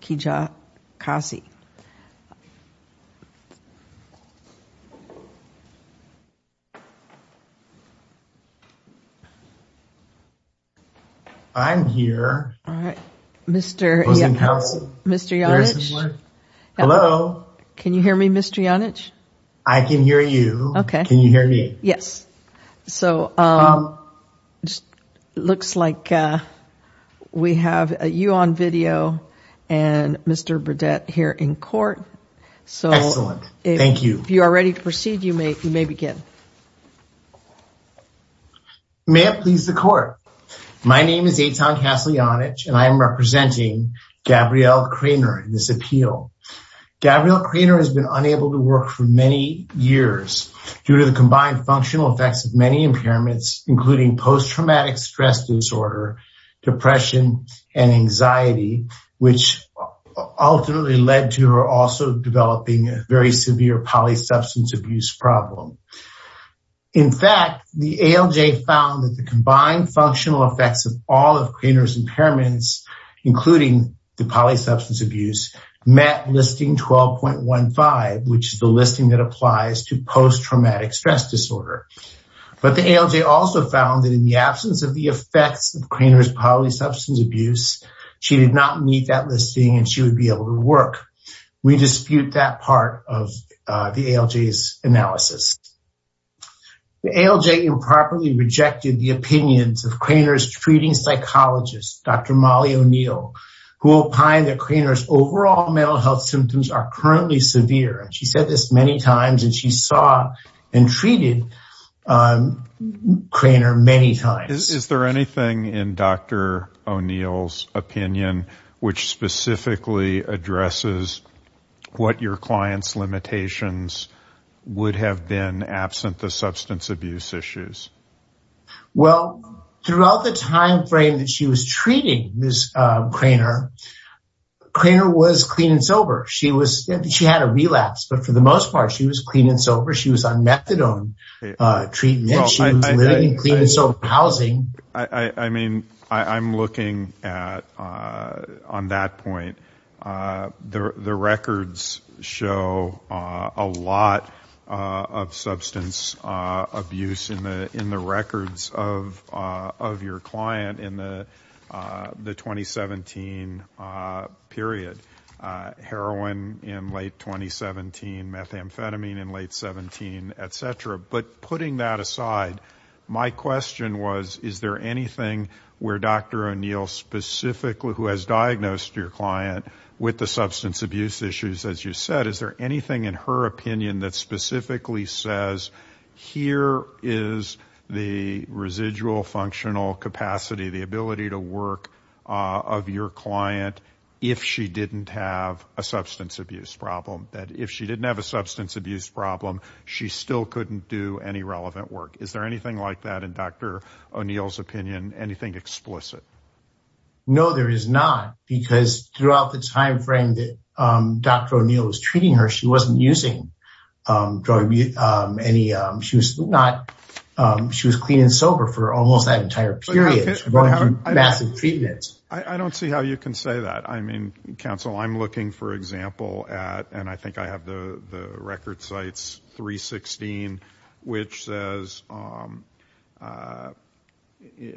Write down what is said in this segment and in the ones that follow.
Kijakazi I'm here. All right, mr. Mr. Hello. Can you hear me? Mr. Yonage? I can hear you. Okay. Can you hear me? Yes, so Looks like We have a you on video and Mr. Burdett here in court. So excellent. Thank you. If you are ready to proceed you may you may begin May it please the court. My name is a town castle Yonage and I am representing Gabrielle Cranor in this appeal Gabrielle Cranor has been unable to work for many years due to the combined functional effects of many impairments including Post-traumatic stress disorder depression and anxiety which Ultimately led to her also developing a very severe poly substance abuse problem In fact, the ALJ found that the combined functional effects of all of Cranor's impairments including the poly substance abuse met listing 12.15 which is the listing that applies to post-traumatic stress disorder But the ALJ also found that in the absence of the effects of Cranor's poly substance abuse She did not meet that listing and she would be able to work. We dispute that part of the ALJ's analysis The ALJ improperly rejected the opinions of Cranor's treating psychologist. Dr. Molly O'Neill Who opined that Cranor's overall mental health symptoms are currently severe and she said this many times and she saw and treated Cranor many times is there anything in dr. O'Neill's opinion which specifically addresses What your clients limitations? Would have been absent the substance abuse issues Well throughout the time frame that she was treating this Cranor Cranor was clean and sober. She was she had a relapse but for the most part she was clean and sober She was on methadone Treatment she was living in clean and sober housing. I mean, I'm looking at on that point the records show a lot of substance abuse in the in the records of of your client in the the 2017 period heroin in late 2017 methamphetamine in late 17, etc. But putting that aside My question was is there anything where dr. O'Neill? Specifically who has diagnosed your client with the substance abuse issues as you said, is there anything in her opinion that specifically says? here is the residual functional capacity the ability to work Of your client if she didn't have a substance abuse problem that if she didn't have a substance abuse problem She still couldn't do any relevant work. Is there anything like that in dr. O'Neill's opinion anything explicit? No, there is not because throughout the time frame that dr. O'Neill was treating her. She wasn't using drug Any she was not She was clean and sober for almost that entire period Massive treatments. I don't see how you can say that. I mean counsel I'm looking for example at and I think I have the the record sites 316 which says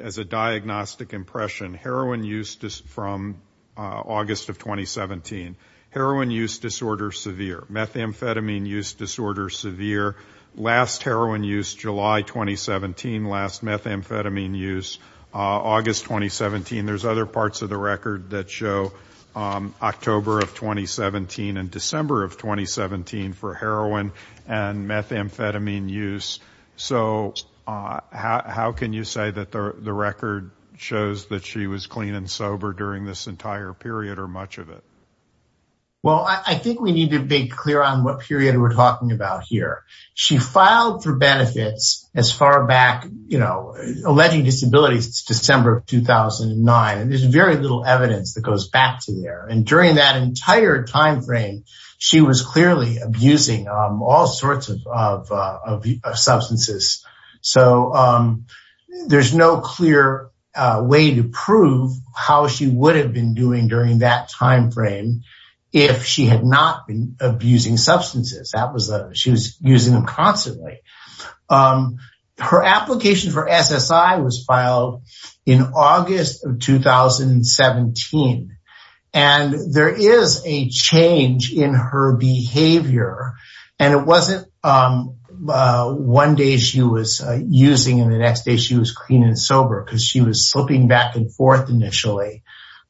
As a diagnostic impression heroin use just from August of 2017 heroin use disorder severe Methamphetamine use disorder severe last heroin use July 2017 last methamphetamine use August 2017 there's other parts of the record that show October of 2017 and December of 2017 for heroin and methamphetamine use so How can you say that the record shows that she was clean and sober during this entire period or much of it? Well, I think we need to be clear on what period we're talking about here She filed for benefits as far back, you know Alleging disabilities, it's December of 2009 and there's very little evidence that goes back to there and during that entire time frame she was clearly abusing all sorts of Substances so There's no clear Way to prove how she would have been doing during that time frame if she had not been Abusing substances that was a she was using them constantly Her application for SSI was filed in August of 2017 and There is a change in her behavior and it wasn't One day she was using in the next day she was clean and sober because she was slipping back and forth initially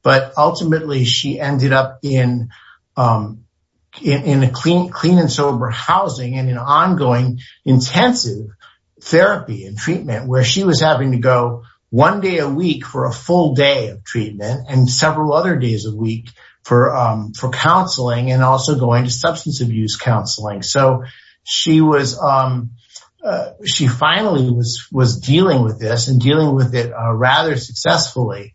but ultimately she ended up in In a clean clean and sober housing and an ongoing intensive Therapy and treatment where she was having to go one day a week for a full day of treatment and several other days a week for for counseling and also going to substance abuse counseling so she was She finally was was dealing with this and dealing with it rather successfully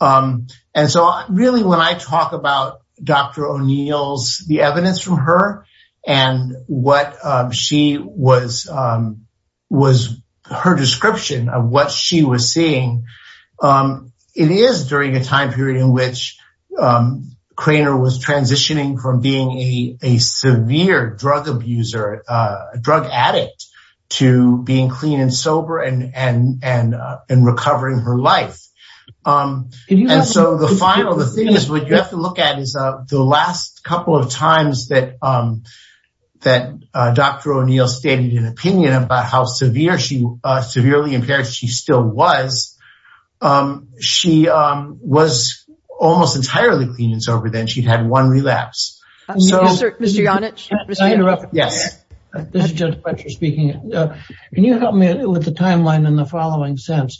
And so really when I talk about Dr. O'Neill's the evidence from her and What she was? Was her description of what she was seeing? it is during a time period in which Craner was transitioning from being a severe drug abuser a drug addict to being clean and sober and and and recovering her life and so the final the thing is what you have to look at is the last couple of times that That dr. O'Neill stated an opinion about how severe she severely impaired. She still was She was almost entirely clean and sober then she'd had one relapse Yes Can you help me with the timeline in the following sense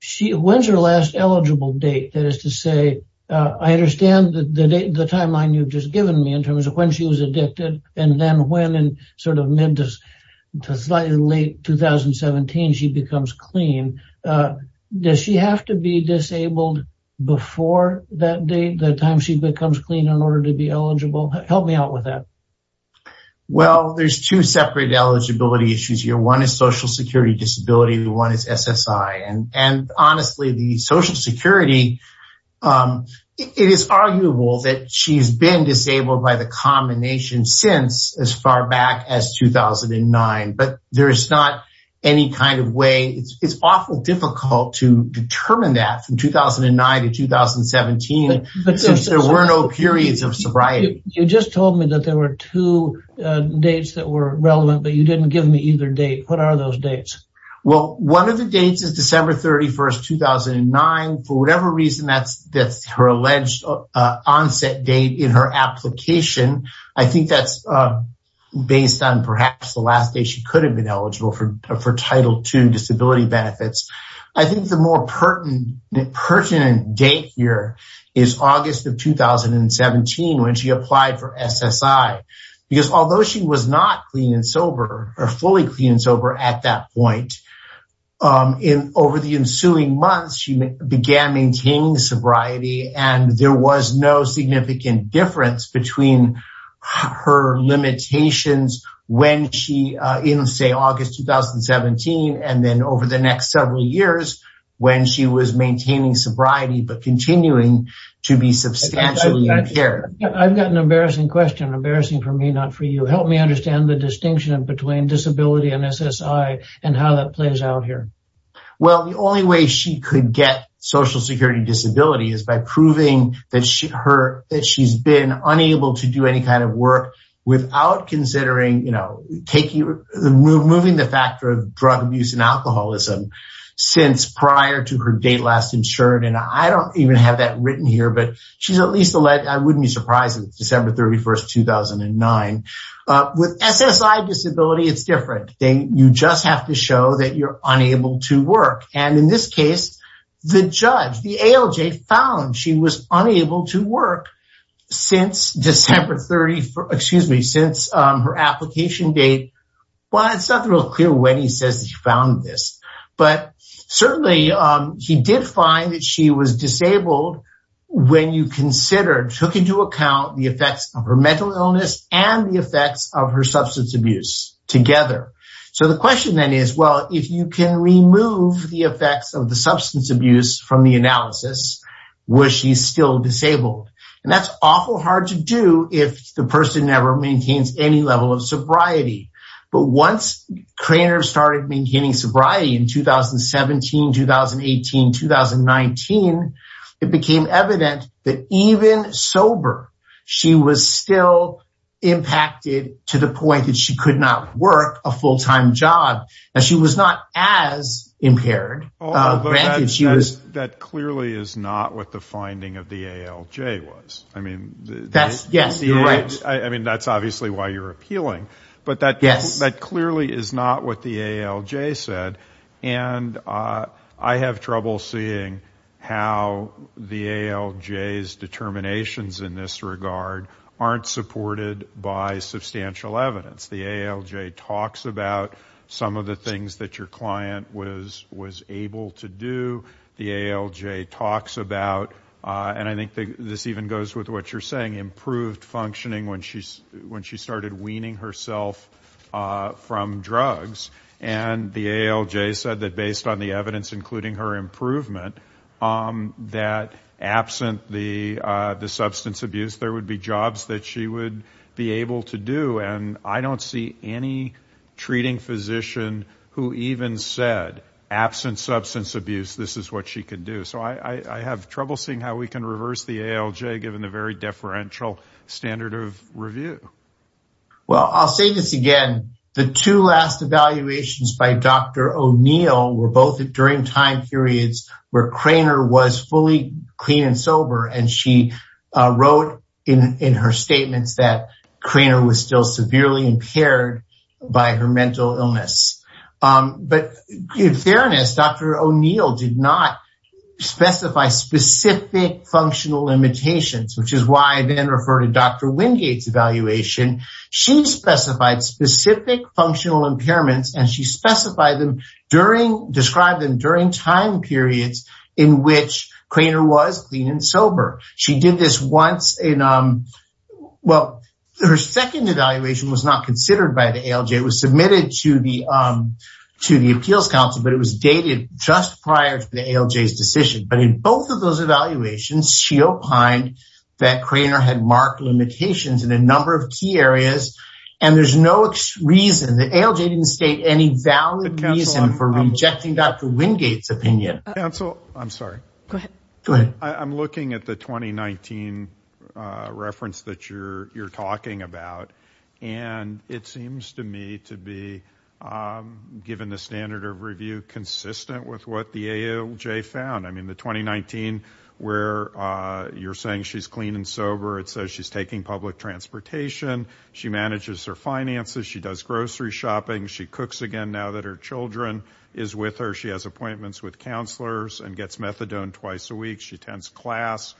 She when's her last eligible date that is to say I understand the date the timeline you've just given me in terms of when she was addicted and then when and sort of meant us to slightly late 2017 she becomes clean Does she have to be disabled before that date the time she becomes clean in order to be eligible help me out with that? Well, there's two separate eligibility issues here. One is Social Security disability. The one is SSI and and honestly the Social Security It is arguable that she's been disabled by the combination since as far back as 2009 but there's not any kind of way. It's awful difficult to determine that from 2009 to 2017 but since there were no periods of sobriety, you just told me that there were two Dates that were relevant, but you didn't give me either date. What are those dates? Well, one of the dates is December 31st 2009 for whatever reason that's that's her alleged onset date in her application, I think that's Based on perhaps the last day she could have been eligible for for title 2 disability benefits. I think the more pertinent pertinent date here is August of 2017 when she applied for SSI because although she was not clean and sober or fully clean and sober at that point in over the ensuing months she began maintaining sobriety and there was no significant difference between Her limitations when she in say August 2017 and then over the next several years when she was maintaining sobriety, but continuing to be substantially impaired I've got an embarrassing question embarrassing for me not for you Help me understand the distinction between disability and SSI and how that plays out here Well, the only way she could get Social Security disability is by proving that she her that she's been unable to do Any kind of work without considering, you know, taking the move moving the factor of drug abuse and alcoholism Since prior to her date last insured and I don't even have that written here But she's at least a leg. I wouldn't be surprised if December 31st 2009 With SSI disability, it's different thing You just have to show that you're unable to work and in this case The judge the ALJ found she was unable to work Since December 30 for excuse me since her application date Well, it's not real clear when he says he found this but certainly he did find that she was disabled When you consider took into account the effects of her mental illness and the effects of her substance abuse Together so the question then is well if you can remove the effects of the substance abuse from the analysis Where she's still disabled and that's awful hard to do if the person never maintains any level of sobriety but once trainers started maintaining sobriety in 2017 2018 2019 it became evident that even sober she was still Impacted to the point that she could not work a full-time job and she was not as impaired She was that clearly is not what the finding of the ALJ was I mean, that's yes You're right. I mean that's obviously why you're appealing but that yes, that clearly is not what the ALJ said and I have trouble seeing how the ALJ is determinations in this regard aren't supported by The ALJ talks about And I think this even goes with what you're saying improved functioning when she's when she started weaning herself From drugs and the ALJ said that based on the evidence including her improvement that absent the The substance abuse there would be jobs that she would be able to do and I don't see any Treating physician who even said Absent substance abuse. This is what she could do So I I have trouble seeing how we can reverse the ALJ given the very deferential standard of review Well, I'll say this again the two last evaluations by dr O'neill were both during time periods where Cranor was fully clean and sober and she Wrote in in her statements that Cranor was still severely impaired by her mental illness But in fairness, dr. O'neill did not specify specific Functional limitations, which is why I then refer to dr. Wingate's evaluation She specified specific functional impairments and she specified them during Described them during time periods in which Cranor was clean and sober She did this once in well, her second evaluation was not considered by the ALJ was submitted to the To the Appeals Council, but it was dated just prior to the ALJ's decision But in both of those evaluations she opined that Cranor had marked limitations in a number of key areas And there's no reason the ALJ didn't state any valid reason for rejecting dr. Wingate's opinion Council I'm sorry. Good. I'm looking at the 2019 Reference that you're you're talking about and it seems to me to be Given the standard of review consistent with what the ALJ found. I mean the 2019 where You're saying she's clean and sober. It says she's taking public transportation. She manages her finances. She does grocery shopping She cooks again now that her children is with her. She has appointments with counselors and gets methadone twice a week. She tends class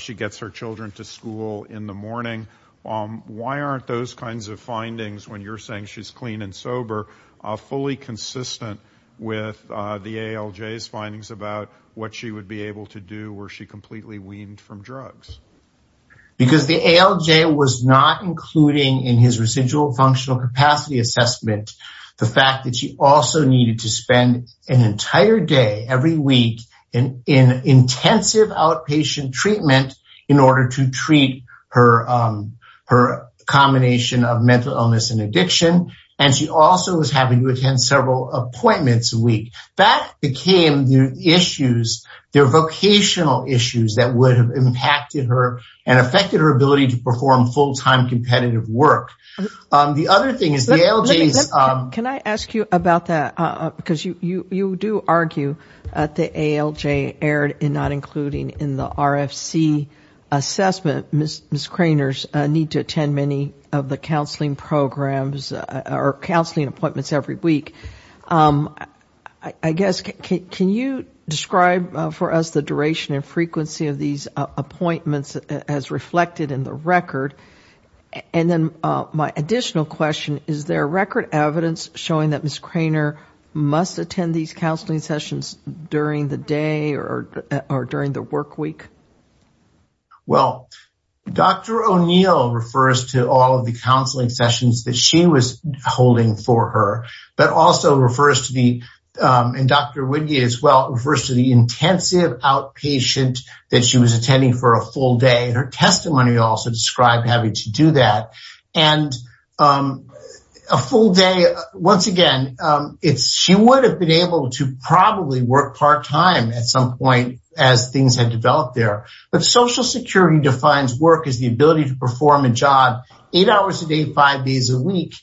She gets her children to school in the morning Why aren't those kinds of findings when you're saying she's clean and sober a fully consistent with? The ALJ's findings about what she would be able to do where she completely weaned from drugs Because the ALJ was not including in his residual functional capacity assessment The fact that she also needed to spend an entire day every week and in intensive outpatient treatment in order to treat her Her combination of mental illness and addiction and she also was having to attend several appointments a week that became the issues their Vocational issues that would have impacted her and affected her ability to perform full-time competitive work The other thing is the ALJ's Can I ask you about that? Because you you you do argue that the ALJ erred in not including in the RFC Assessment miss miss Craner's need to attend many of the counseling programs or counseling appointments every week I Guess can you describe for us the duration and frequency of these appointments as reflected in the record? And then my additional question, is there record evidence showing that miss Craner Must attend these counseling sessions during the day or or during the work week Dr. O'Neill refers to all of the counseling sessions that she was holding for her but also refers to the And dr. Wiggy as well refers to the intensive Outpatient that she was attending for a full day and her testimony also described having to do that and a full day once again It's she would have been able to probably work part-time at some point as things had developed there But Social Security defines work is the ability to perform a job eight hours a day five days a week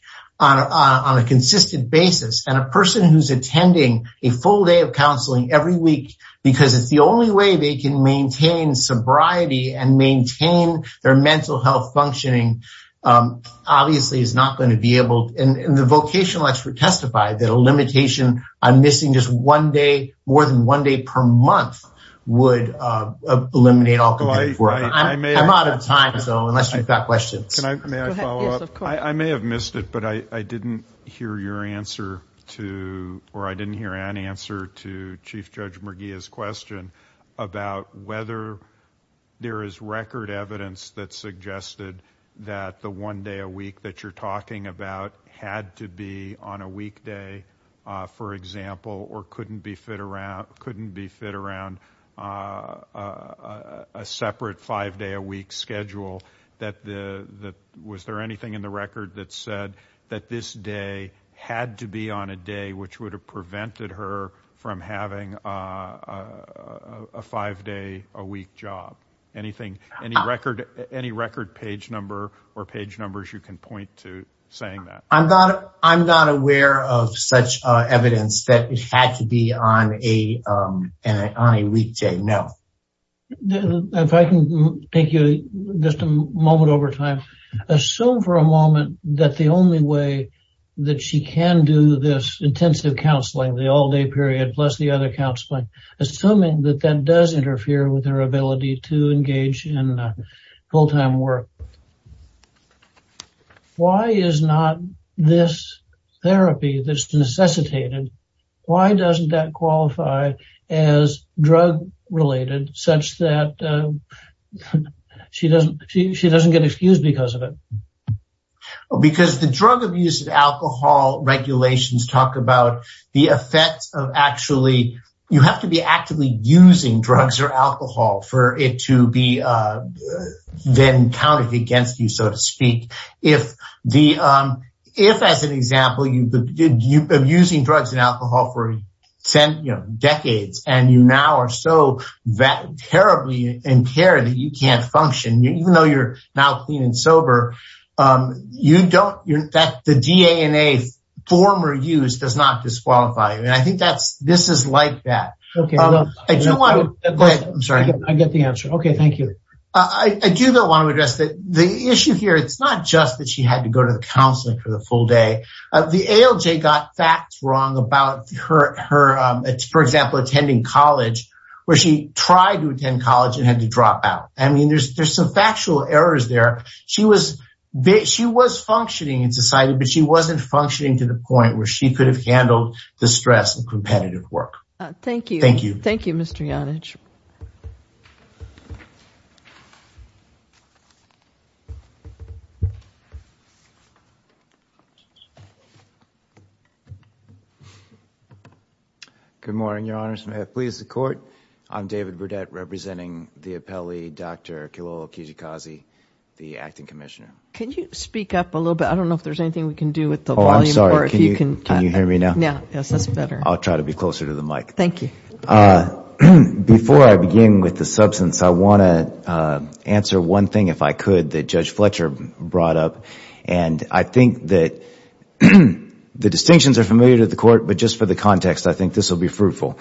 On a consistent basis and a person who's attending a full day of counseling every week because it's the only way they can maintain sobriety and maintain their mental health functioning Obviously is not going to be able and the vocational expert testified that a limitation I'm missing just one day more than one day per month would Eliminate all the way. I'm out of time. So unless I've got questions I may have missed it But I didn't hear your answer to or I didn't hear an answer to Chief Judge McGee is question about whether There is record evidence that suggested that the one day a week that you're talking about had to be on a weekday for example, or couldn't be fit around couldn't be fit around a Was there anything in the record that said that this day had to be on a day which would have prevented her from having a Five day a week job Anything any record any record page number or page numbers you can point to saying that I'm not I'm not aware of such evidence that it had to be on a on a weekday no If I can take you just a moment over time Assume for a moment that the only way that she can do this intensive counseling the all-day period plus the other Counseling assuming that that does interfere with her ability to engage in full-time work Why is not this Therapy that's necessitated. Why doesn't that qualify as? Drug-related such that She doesn't she doesn't get excused because of it because the drug abuse of alcohol regulations talk about the effects of actually you have to be actively using drugs or alcohol for it to be then counted against you so to speak if the if as an example you Using drugs and alcohol for 10 decades and you now are so that terribly in care that you can't function you even though you're now clean and sober You don't you're that the DNA Former use does not disqualify. I mean, I think that's this is like that. Okay. I don't want it. I'm sorry I get the answer. Okay. Thank you. I do not want to address that the issue here It's not just that she had to go to the counseling for the full day of the ALJ got facts wrong about her her For example attending college where she tried to attend college and had to drop out I mean, there's there's some factual errors there She was bit she was functioning in society But she wasn't functioning to the point where she could have handled the stress of competitive work. Thank you. Thank you. Thank you. Mr Yonage Good Morning your honor's may have pleased the court. I'm David Burdett representing the appellee. Dr. Kilo Kijikaze the acting commissioner. Can you speak up a little bit? I don't know if there's anything we can do with the Oh, I'm sorry. Can you can you hear me now? Yeah. Yes, that's better. I'll try to be closer to the mic. Thank you Before I begin with the substance I want to Answer one thing if I could that judge Fletcher brought up and I think that The distinctions are familiar to the court, but just for the context. I think this will be fruitful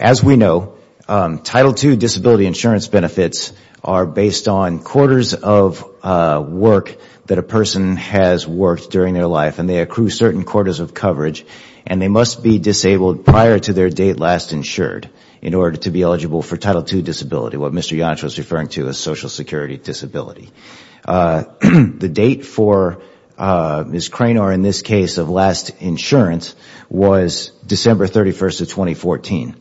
as we know Title two disability insurance benefits are based on quarters of work that a person has worked during their life and they accrue certain quarters of coverage and they must be Disability The date for Miss Cranor in this case of last insurance was December 31st of 2014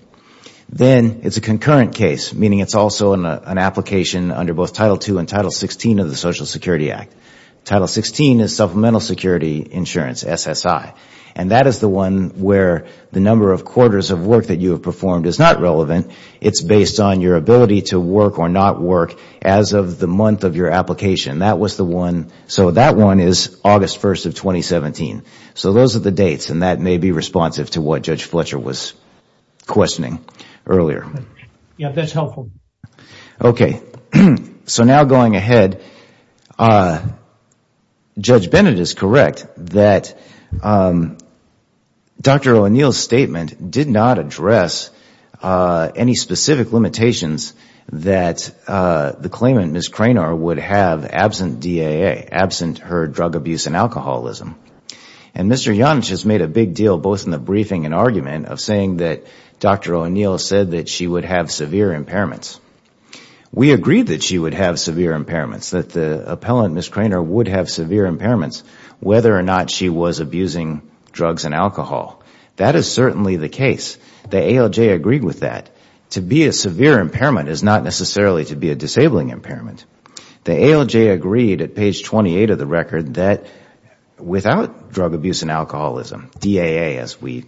Then it's a concurrent case meaning it's also in an application under both title 2 and title 16 of the Social Security Act Title 16 is supplemental security insurance SSI And that is the one where the number of quarters of work that you have performed is not relevant It's based on your ability to work or not work as of the month of your application That was the one so that one is August 1st of 2017 So those are the dates and that may be responsive to what judge Fletcher was questioning earlier Okay, so now going ahead Judge Bennett is correct that Dr. O'Neill statement did not address Any specific limitations that the claimant miss Cranor would have absent DAA absent her drug abuse and alcoholism and Mr. Young has made a big deal both in the briefing and argument of saying that dr. O'Neill said that she would have severe impairments We agreed that she would have severe impairments that the appellant miss Cranor would have severe impairments Whether or not she was abusing drugs and alcohol That is certainly the case The ALJ agreed with that to be a severe impairment is not necessarily to be a disabling impairment the ALJ agreed at page 28 of the record that without drug abuse and alcoholism DAA as we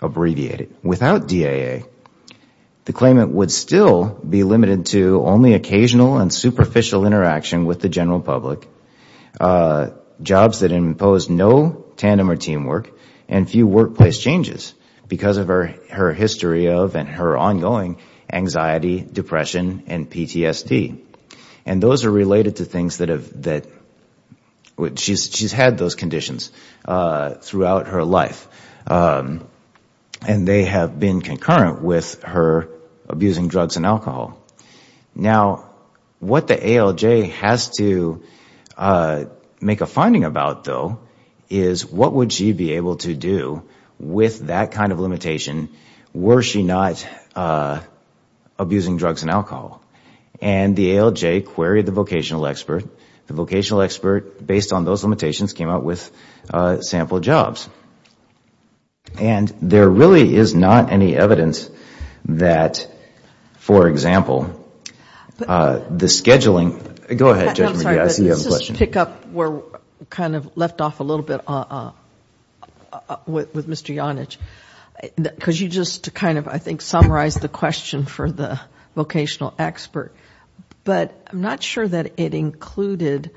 abbreviate it without DAA The claimant would still be limited to only occasional and superficial interaction with the general public Jobs that imposed no tandem or teamwork and few workplace changes because of her her history of and her ongoing anxiety depression and PTSD and those are related to things that have that Which she's had those conditions throughout her life and They have been concurrent with her abusing drugs and alcohol now what the ALJ has to Make a finding about though is what would she be able to do with that kind of limitation? Were she not? Abusing drugs and alcohol and the ALJ queried the vocational expert the vocational expert based on those limitations came out with sample jobs And there really is not any evidence that For example The scheduling go ahead Pick up we're kind of left off a little bit With mr. Yonage Because you just kind of I think summarize the question for the vocational expert But I'm not sure that it included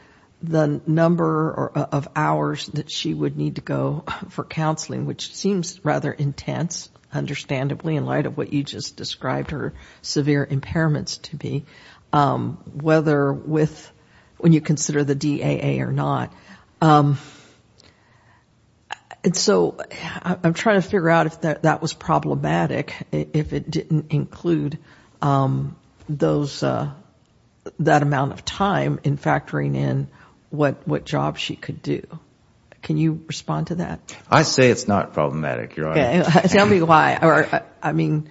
the number of hours that she would need to go for counseling Which seems rather intense? Understandably in light of what you just described her severe impairments to be Whether with when you consider the DAA or not And so I'm trying to figure out if that was problematic if it didn't include those That amount of time in factoring in what what job she could do. Can you respond to that? I say it's not problematic. Yeah, tell me why or I mean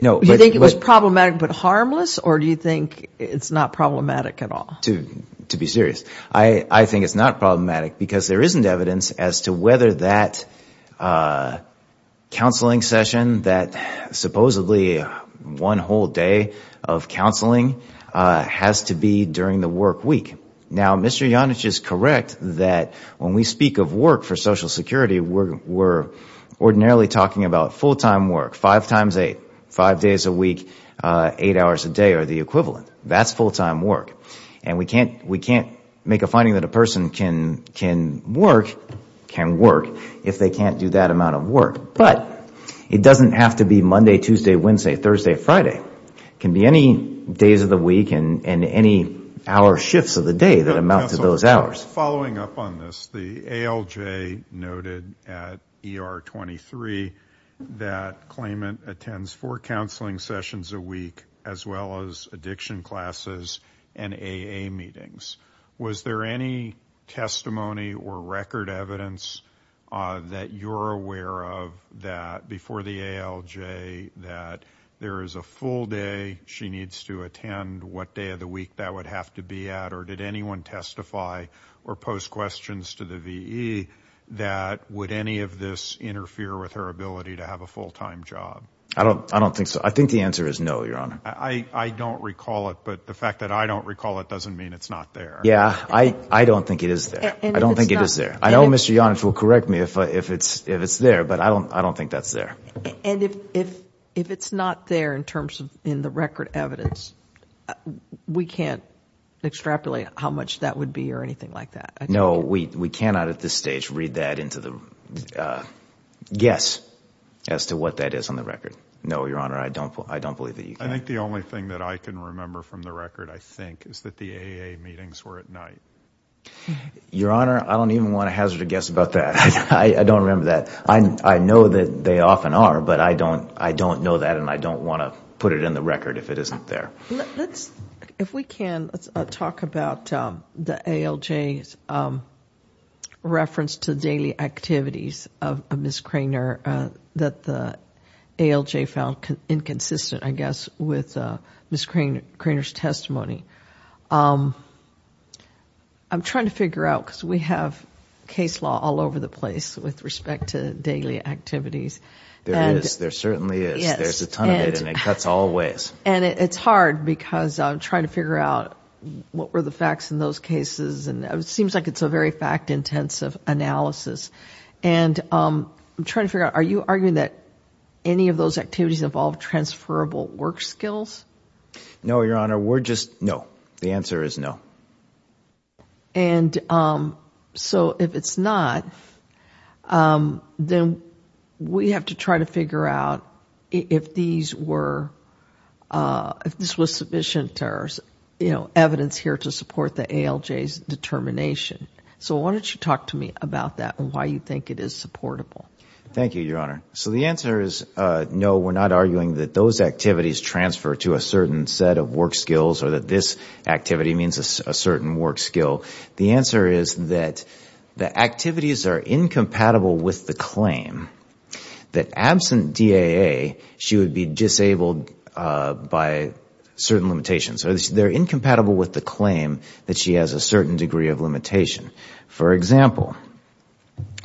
No, you think it was problematic but harmless or do you think it's not problematic at all to to be serious? I I think it's not problematic because there isn't evidence as to whether that Counseling session that supposedly one whole day of Counseling has to be during the workweek now. Mr Yonage is correct that when we speak of work for Social Security, we're Ordinarily talking about full-time work five times eight five days a week Eight hours a day or the equivalent that's full-time work and we can't we can't make a finding that a person can can work Can work if they can't do that amount of work, but it doesn't have to be Monday Tuesday Wednesday Thursday Friday Can be any days of the week and and any hour shifts of the day that amount to those hours following up on this the ALJ noted at ER 23 that Claimant attends for counseling sessions a week as well as addiction classes and a a meetings Was there any? testimony or record evidence That you're aware of that before the ALJ that there is a full day She needs to attend what day of the week that would have to be at or did anyone testify or post questions to the VE? That would any of this interfere with her ability to have a full-time job? I don't I don't think so I think the answer is no your honor. I I don't recall it But the fact that I don't recall it doesn't mean it's not there. Yeah, I I don't think it is there I don't think it is there. I know mr. Yonitz will correct me if it's if it's there But I don't I don't think that's there and if if it's not there in terms of in the record evidence We can't Extrapolate how much that would be or anything like that. No, we we cannot at this stage read that into the Yes as to what that is on the record. No, your honor. I don't put I don't believe that I think the only thing that I can remember from the record I think is that the AA meetings were at night Your honor, I don't even want to hazard a guess about that. I don't remember that I know that they often are but I don't I don't know that and I don't want to put it in the record if it Isn't there? Let's if we can let's talk about the ALJ's Reference to daily activities of miss Craner that the ALJ found inconsistent I guess with miss crane Craner's testimony I'm Trying to figure out because we have case law all over the place with respect to daily activities And there certainly is there's a ton of it and it cuts all ways and it's hard because I'm trying to figure out what were the facts in those cases and it seems like it's a very fact-intensive analysis and I'm trying to figure out. Are you arguing that any of those activities involved transferable work skills? No, your honor, we're just no the answer is no and So if it's not Then we have to try to figure out if these were If this was sufficient errors, you know evidence here to support the ALJ's determination So why don't you talk to me about that and why you think it is supportable? Thank you, your honor So the answer is no We're not arguing that those activities transfer to a certain set of work skills or that this Activity means a certain work skill. The answer is that the activities are incompatible with the claim That absent DAA she would be disabled by Certain limitations or they're incompatible with the claim that she has a certain degree of limitation. For example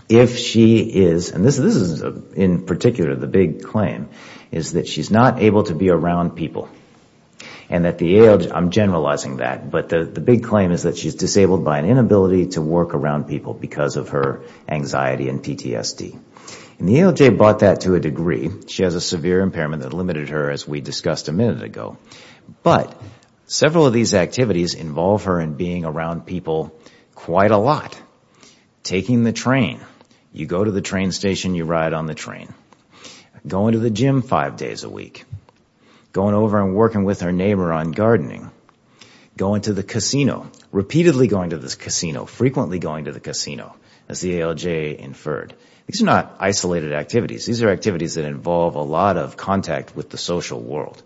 If she is and this is in particular the big claim is that she's not able to be around people and That the age I'm generalizing that but the big claim is that she's disabled by an inability to work around people because of her Anxiety and PTSD and the ALJ bought that to a degree. She has a severe impairment that limited her as we discussed a minute ago but Several of these activities involve her and being around people quite a lot Taking the train you go to the train station you ride on the train Going to the gym five days a week Going over and working with her neighbor on gardening Going to the casino repeatedly going to this casino frequently going to the casino as the ALJ inferred These are not isolated activities. These are activities that involve a lot of contact with the social world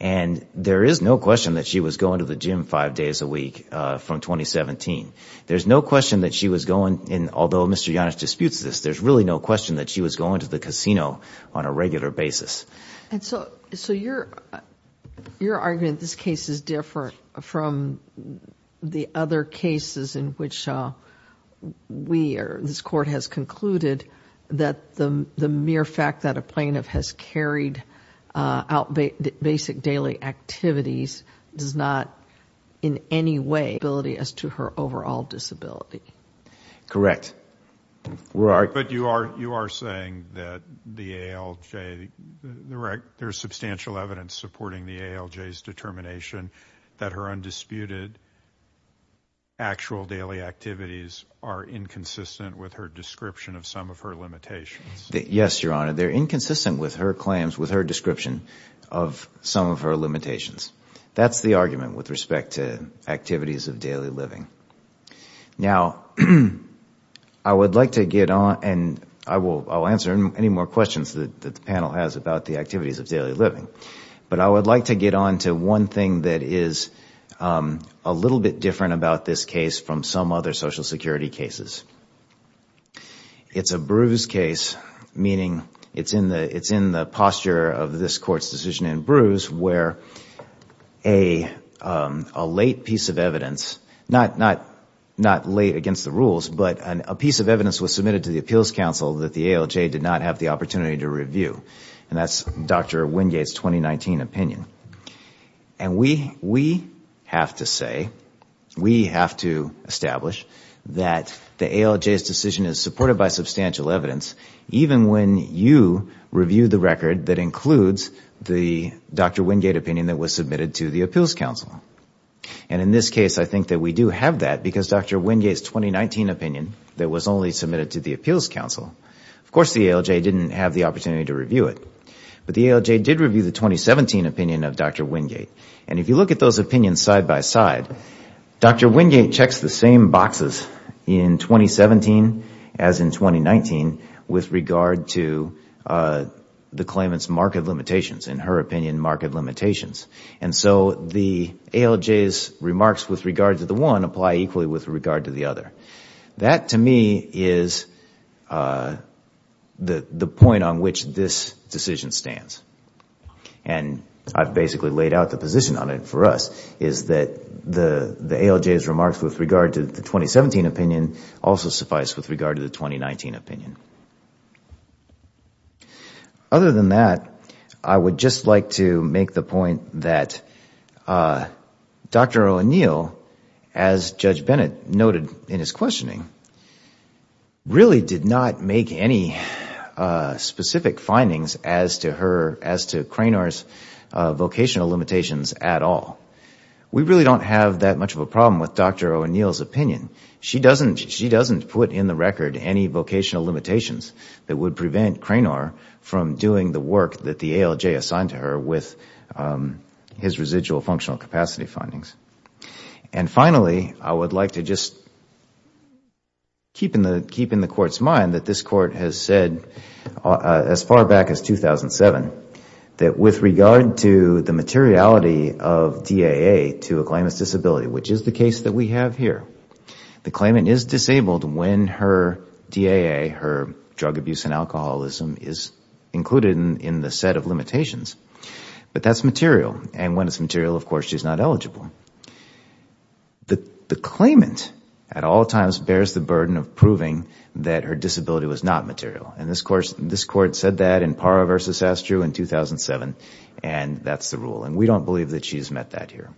and There is no question that she was going to the gym five days a week from 2017 There's no question that she was going in although. Mr. Yannis disputes this There's really no question that she was going to the casino on a regular basis. And so so you're your argument this case is different from the other cases in which We are this court has concluded that the the mere fact that a plaintiff has carried out basic daily activities does not in Anyway ability as to her overall disability correct We're art, but you are you are saying that the ALJ? Direct there's substantial evidence supporting the ALJ s determination that her undisputed Actual daily activities are inconsistent with her description of some of her limitations. Yes, Your Honor they're inconsistent with her claims with her description of The argument with respect to activities of daily living now I Would like to get on and I will answer any more questions that the panel has about the activities of daily living But I would like to get on to one thing. That is a Little bit different about this case from some other Social Security cases It's a bruise case meaning it's in the it's in the posture of this court's decision in bruise where a a late piece of evidence Not not not late against the rules But a piece of evidence was submitted to the Appeals Council that the ALJ did not have the opportunity to review and that's dr Wingate's 2019 opinion and we we have to say we have to establish that The ALJ s decision is supported by substantial evidence Even when you review the record that includes the dr. Wingate opinion that was submitted to the Appeals Council and In this case, I think that we do have that because dr Wingate's 2019 opinion that was only submitted to the Appeals Council Of course, the ALJ didn't have the opportunity to review it, but the ALJ did review the 2017 opinion of dr Wingate and if you look at those opinions side by side Dr. Wingate checks the same boxes in 2017 as in 2019 with regard to the claimants market limitations in her opinion market limitations And so the ALJ's remarks with regard to the one apply equally with regard to the other that to me is The the point on which this decision stands and I've basically laid out the position on it for us Is that the the ALJ's remarks with regard to the 2017 opinion also suffice with regard to the 2019 opinion? Other than that, I would just like to make the point that Dr. O'Neill as Judge Bennett noted in his questioning Really did not make any Specific findings as to her as to Cranor's vocational limitations at all We really don't have that much of a problem with dr. O'Neill's opinion She doesn't she doesn't put in the record any vocational limitations that would prevent Cranor from doing the work that the ALJ assigned to her with his residual functional capacity findings and finally, I would like to just Keep in the keep in the court's mind that this court has said as far back as 2007 that with regard to the materiality of DAA to a claimant's disability Which is the case that we have here the claimant is disabled when her DAA her drug abuse and alcoholism is Included in the set of limitations, but that's material and when it's material, of course, she's not eligible The the claimant at all times bears the burden of proving that her disability was not material in this course This court said that in para versus Astro in 2007, and that's the rule and we don't believe that she's met that here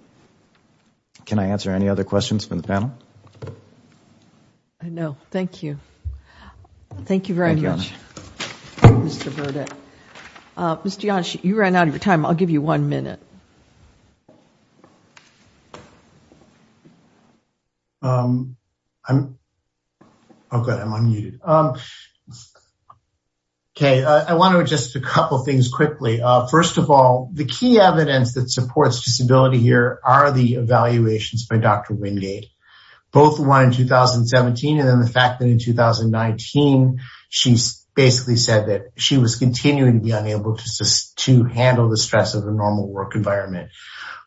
Can I answer any other questions from the panel? I Know thank you Thank you very much Mr. Yash, you ran out of your time. I'll give you one minute I'm okay. I'm on you Okay, I want to just a couple things quickly First of all, the key evidence that supports disability here are the evaluations by dr Wingate both one in 2017 and then the fact that in 2019 she's basically said that she was continuing to be unable to handle the stress of the normal work environment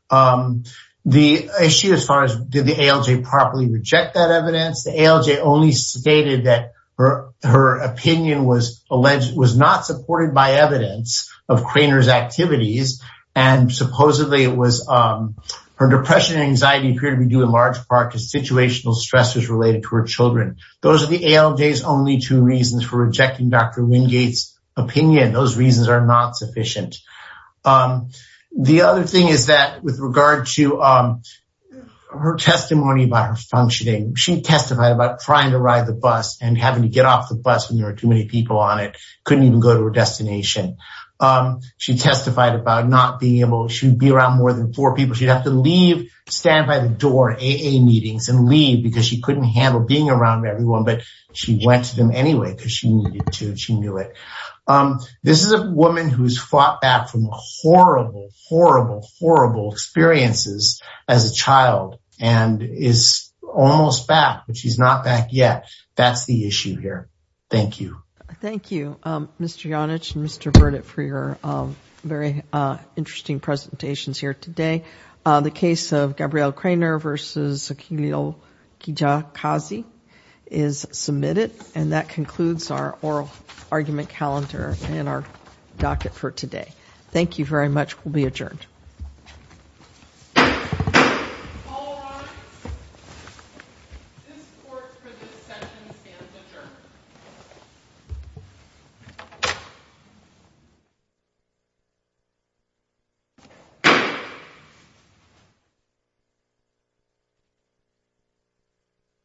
The issue as far as did the ALJ properly reject that evidence the ALJ only stated that her her opinion was alleged was not supported by evidence of Craner's activities and supposedly it was Her depression anxiety period we do in large part to situational stressors related to her children Those are the ALJs only two reasons for rejecting dr. Wingate's opinion. Those reasons are not sufficient the other thing is that with regard to Her testimony about her functioning She testified about trying to ride the bus and having to get off the bus when there are too many people on it Couldn't even go to her destination She testified about not being able she'd be around more than four people She'd have to leave stand by the door AA meetings and leave because she couldn't handle being around everyone But she went to them anyway, because she needed to she knew it This is a woman who's fought back from horrible horrible horrible Experiences as a child and is almost back, but she's not back yet. That's the issue here Thank you. Thank you. Mr. Janich and mr. Burdett for your very interesting presentations here today the case of Gabrielle Craner versus a keel Kija Kazi is Submitted and that concludes our oral argument calendar in our docket for today. Thank you very much will be adjourned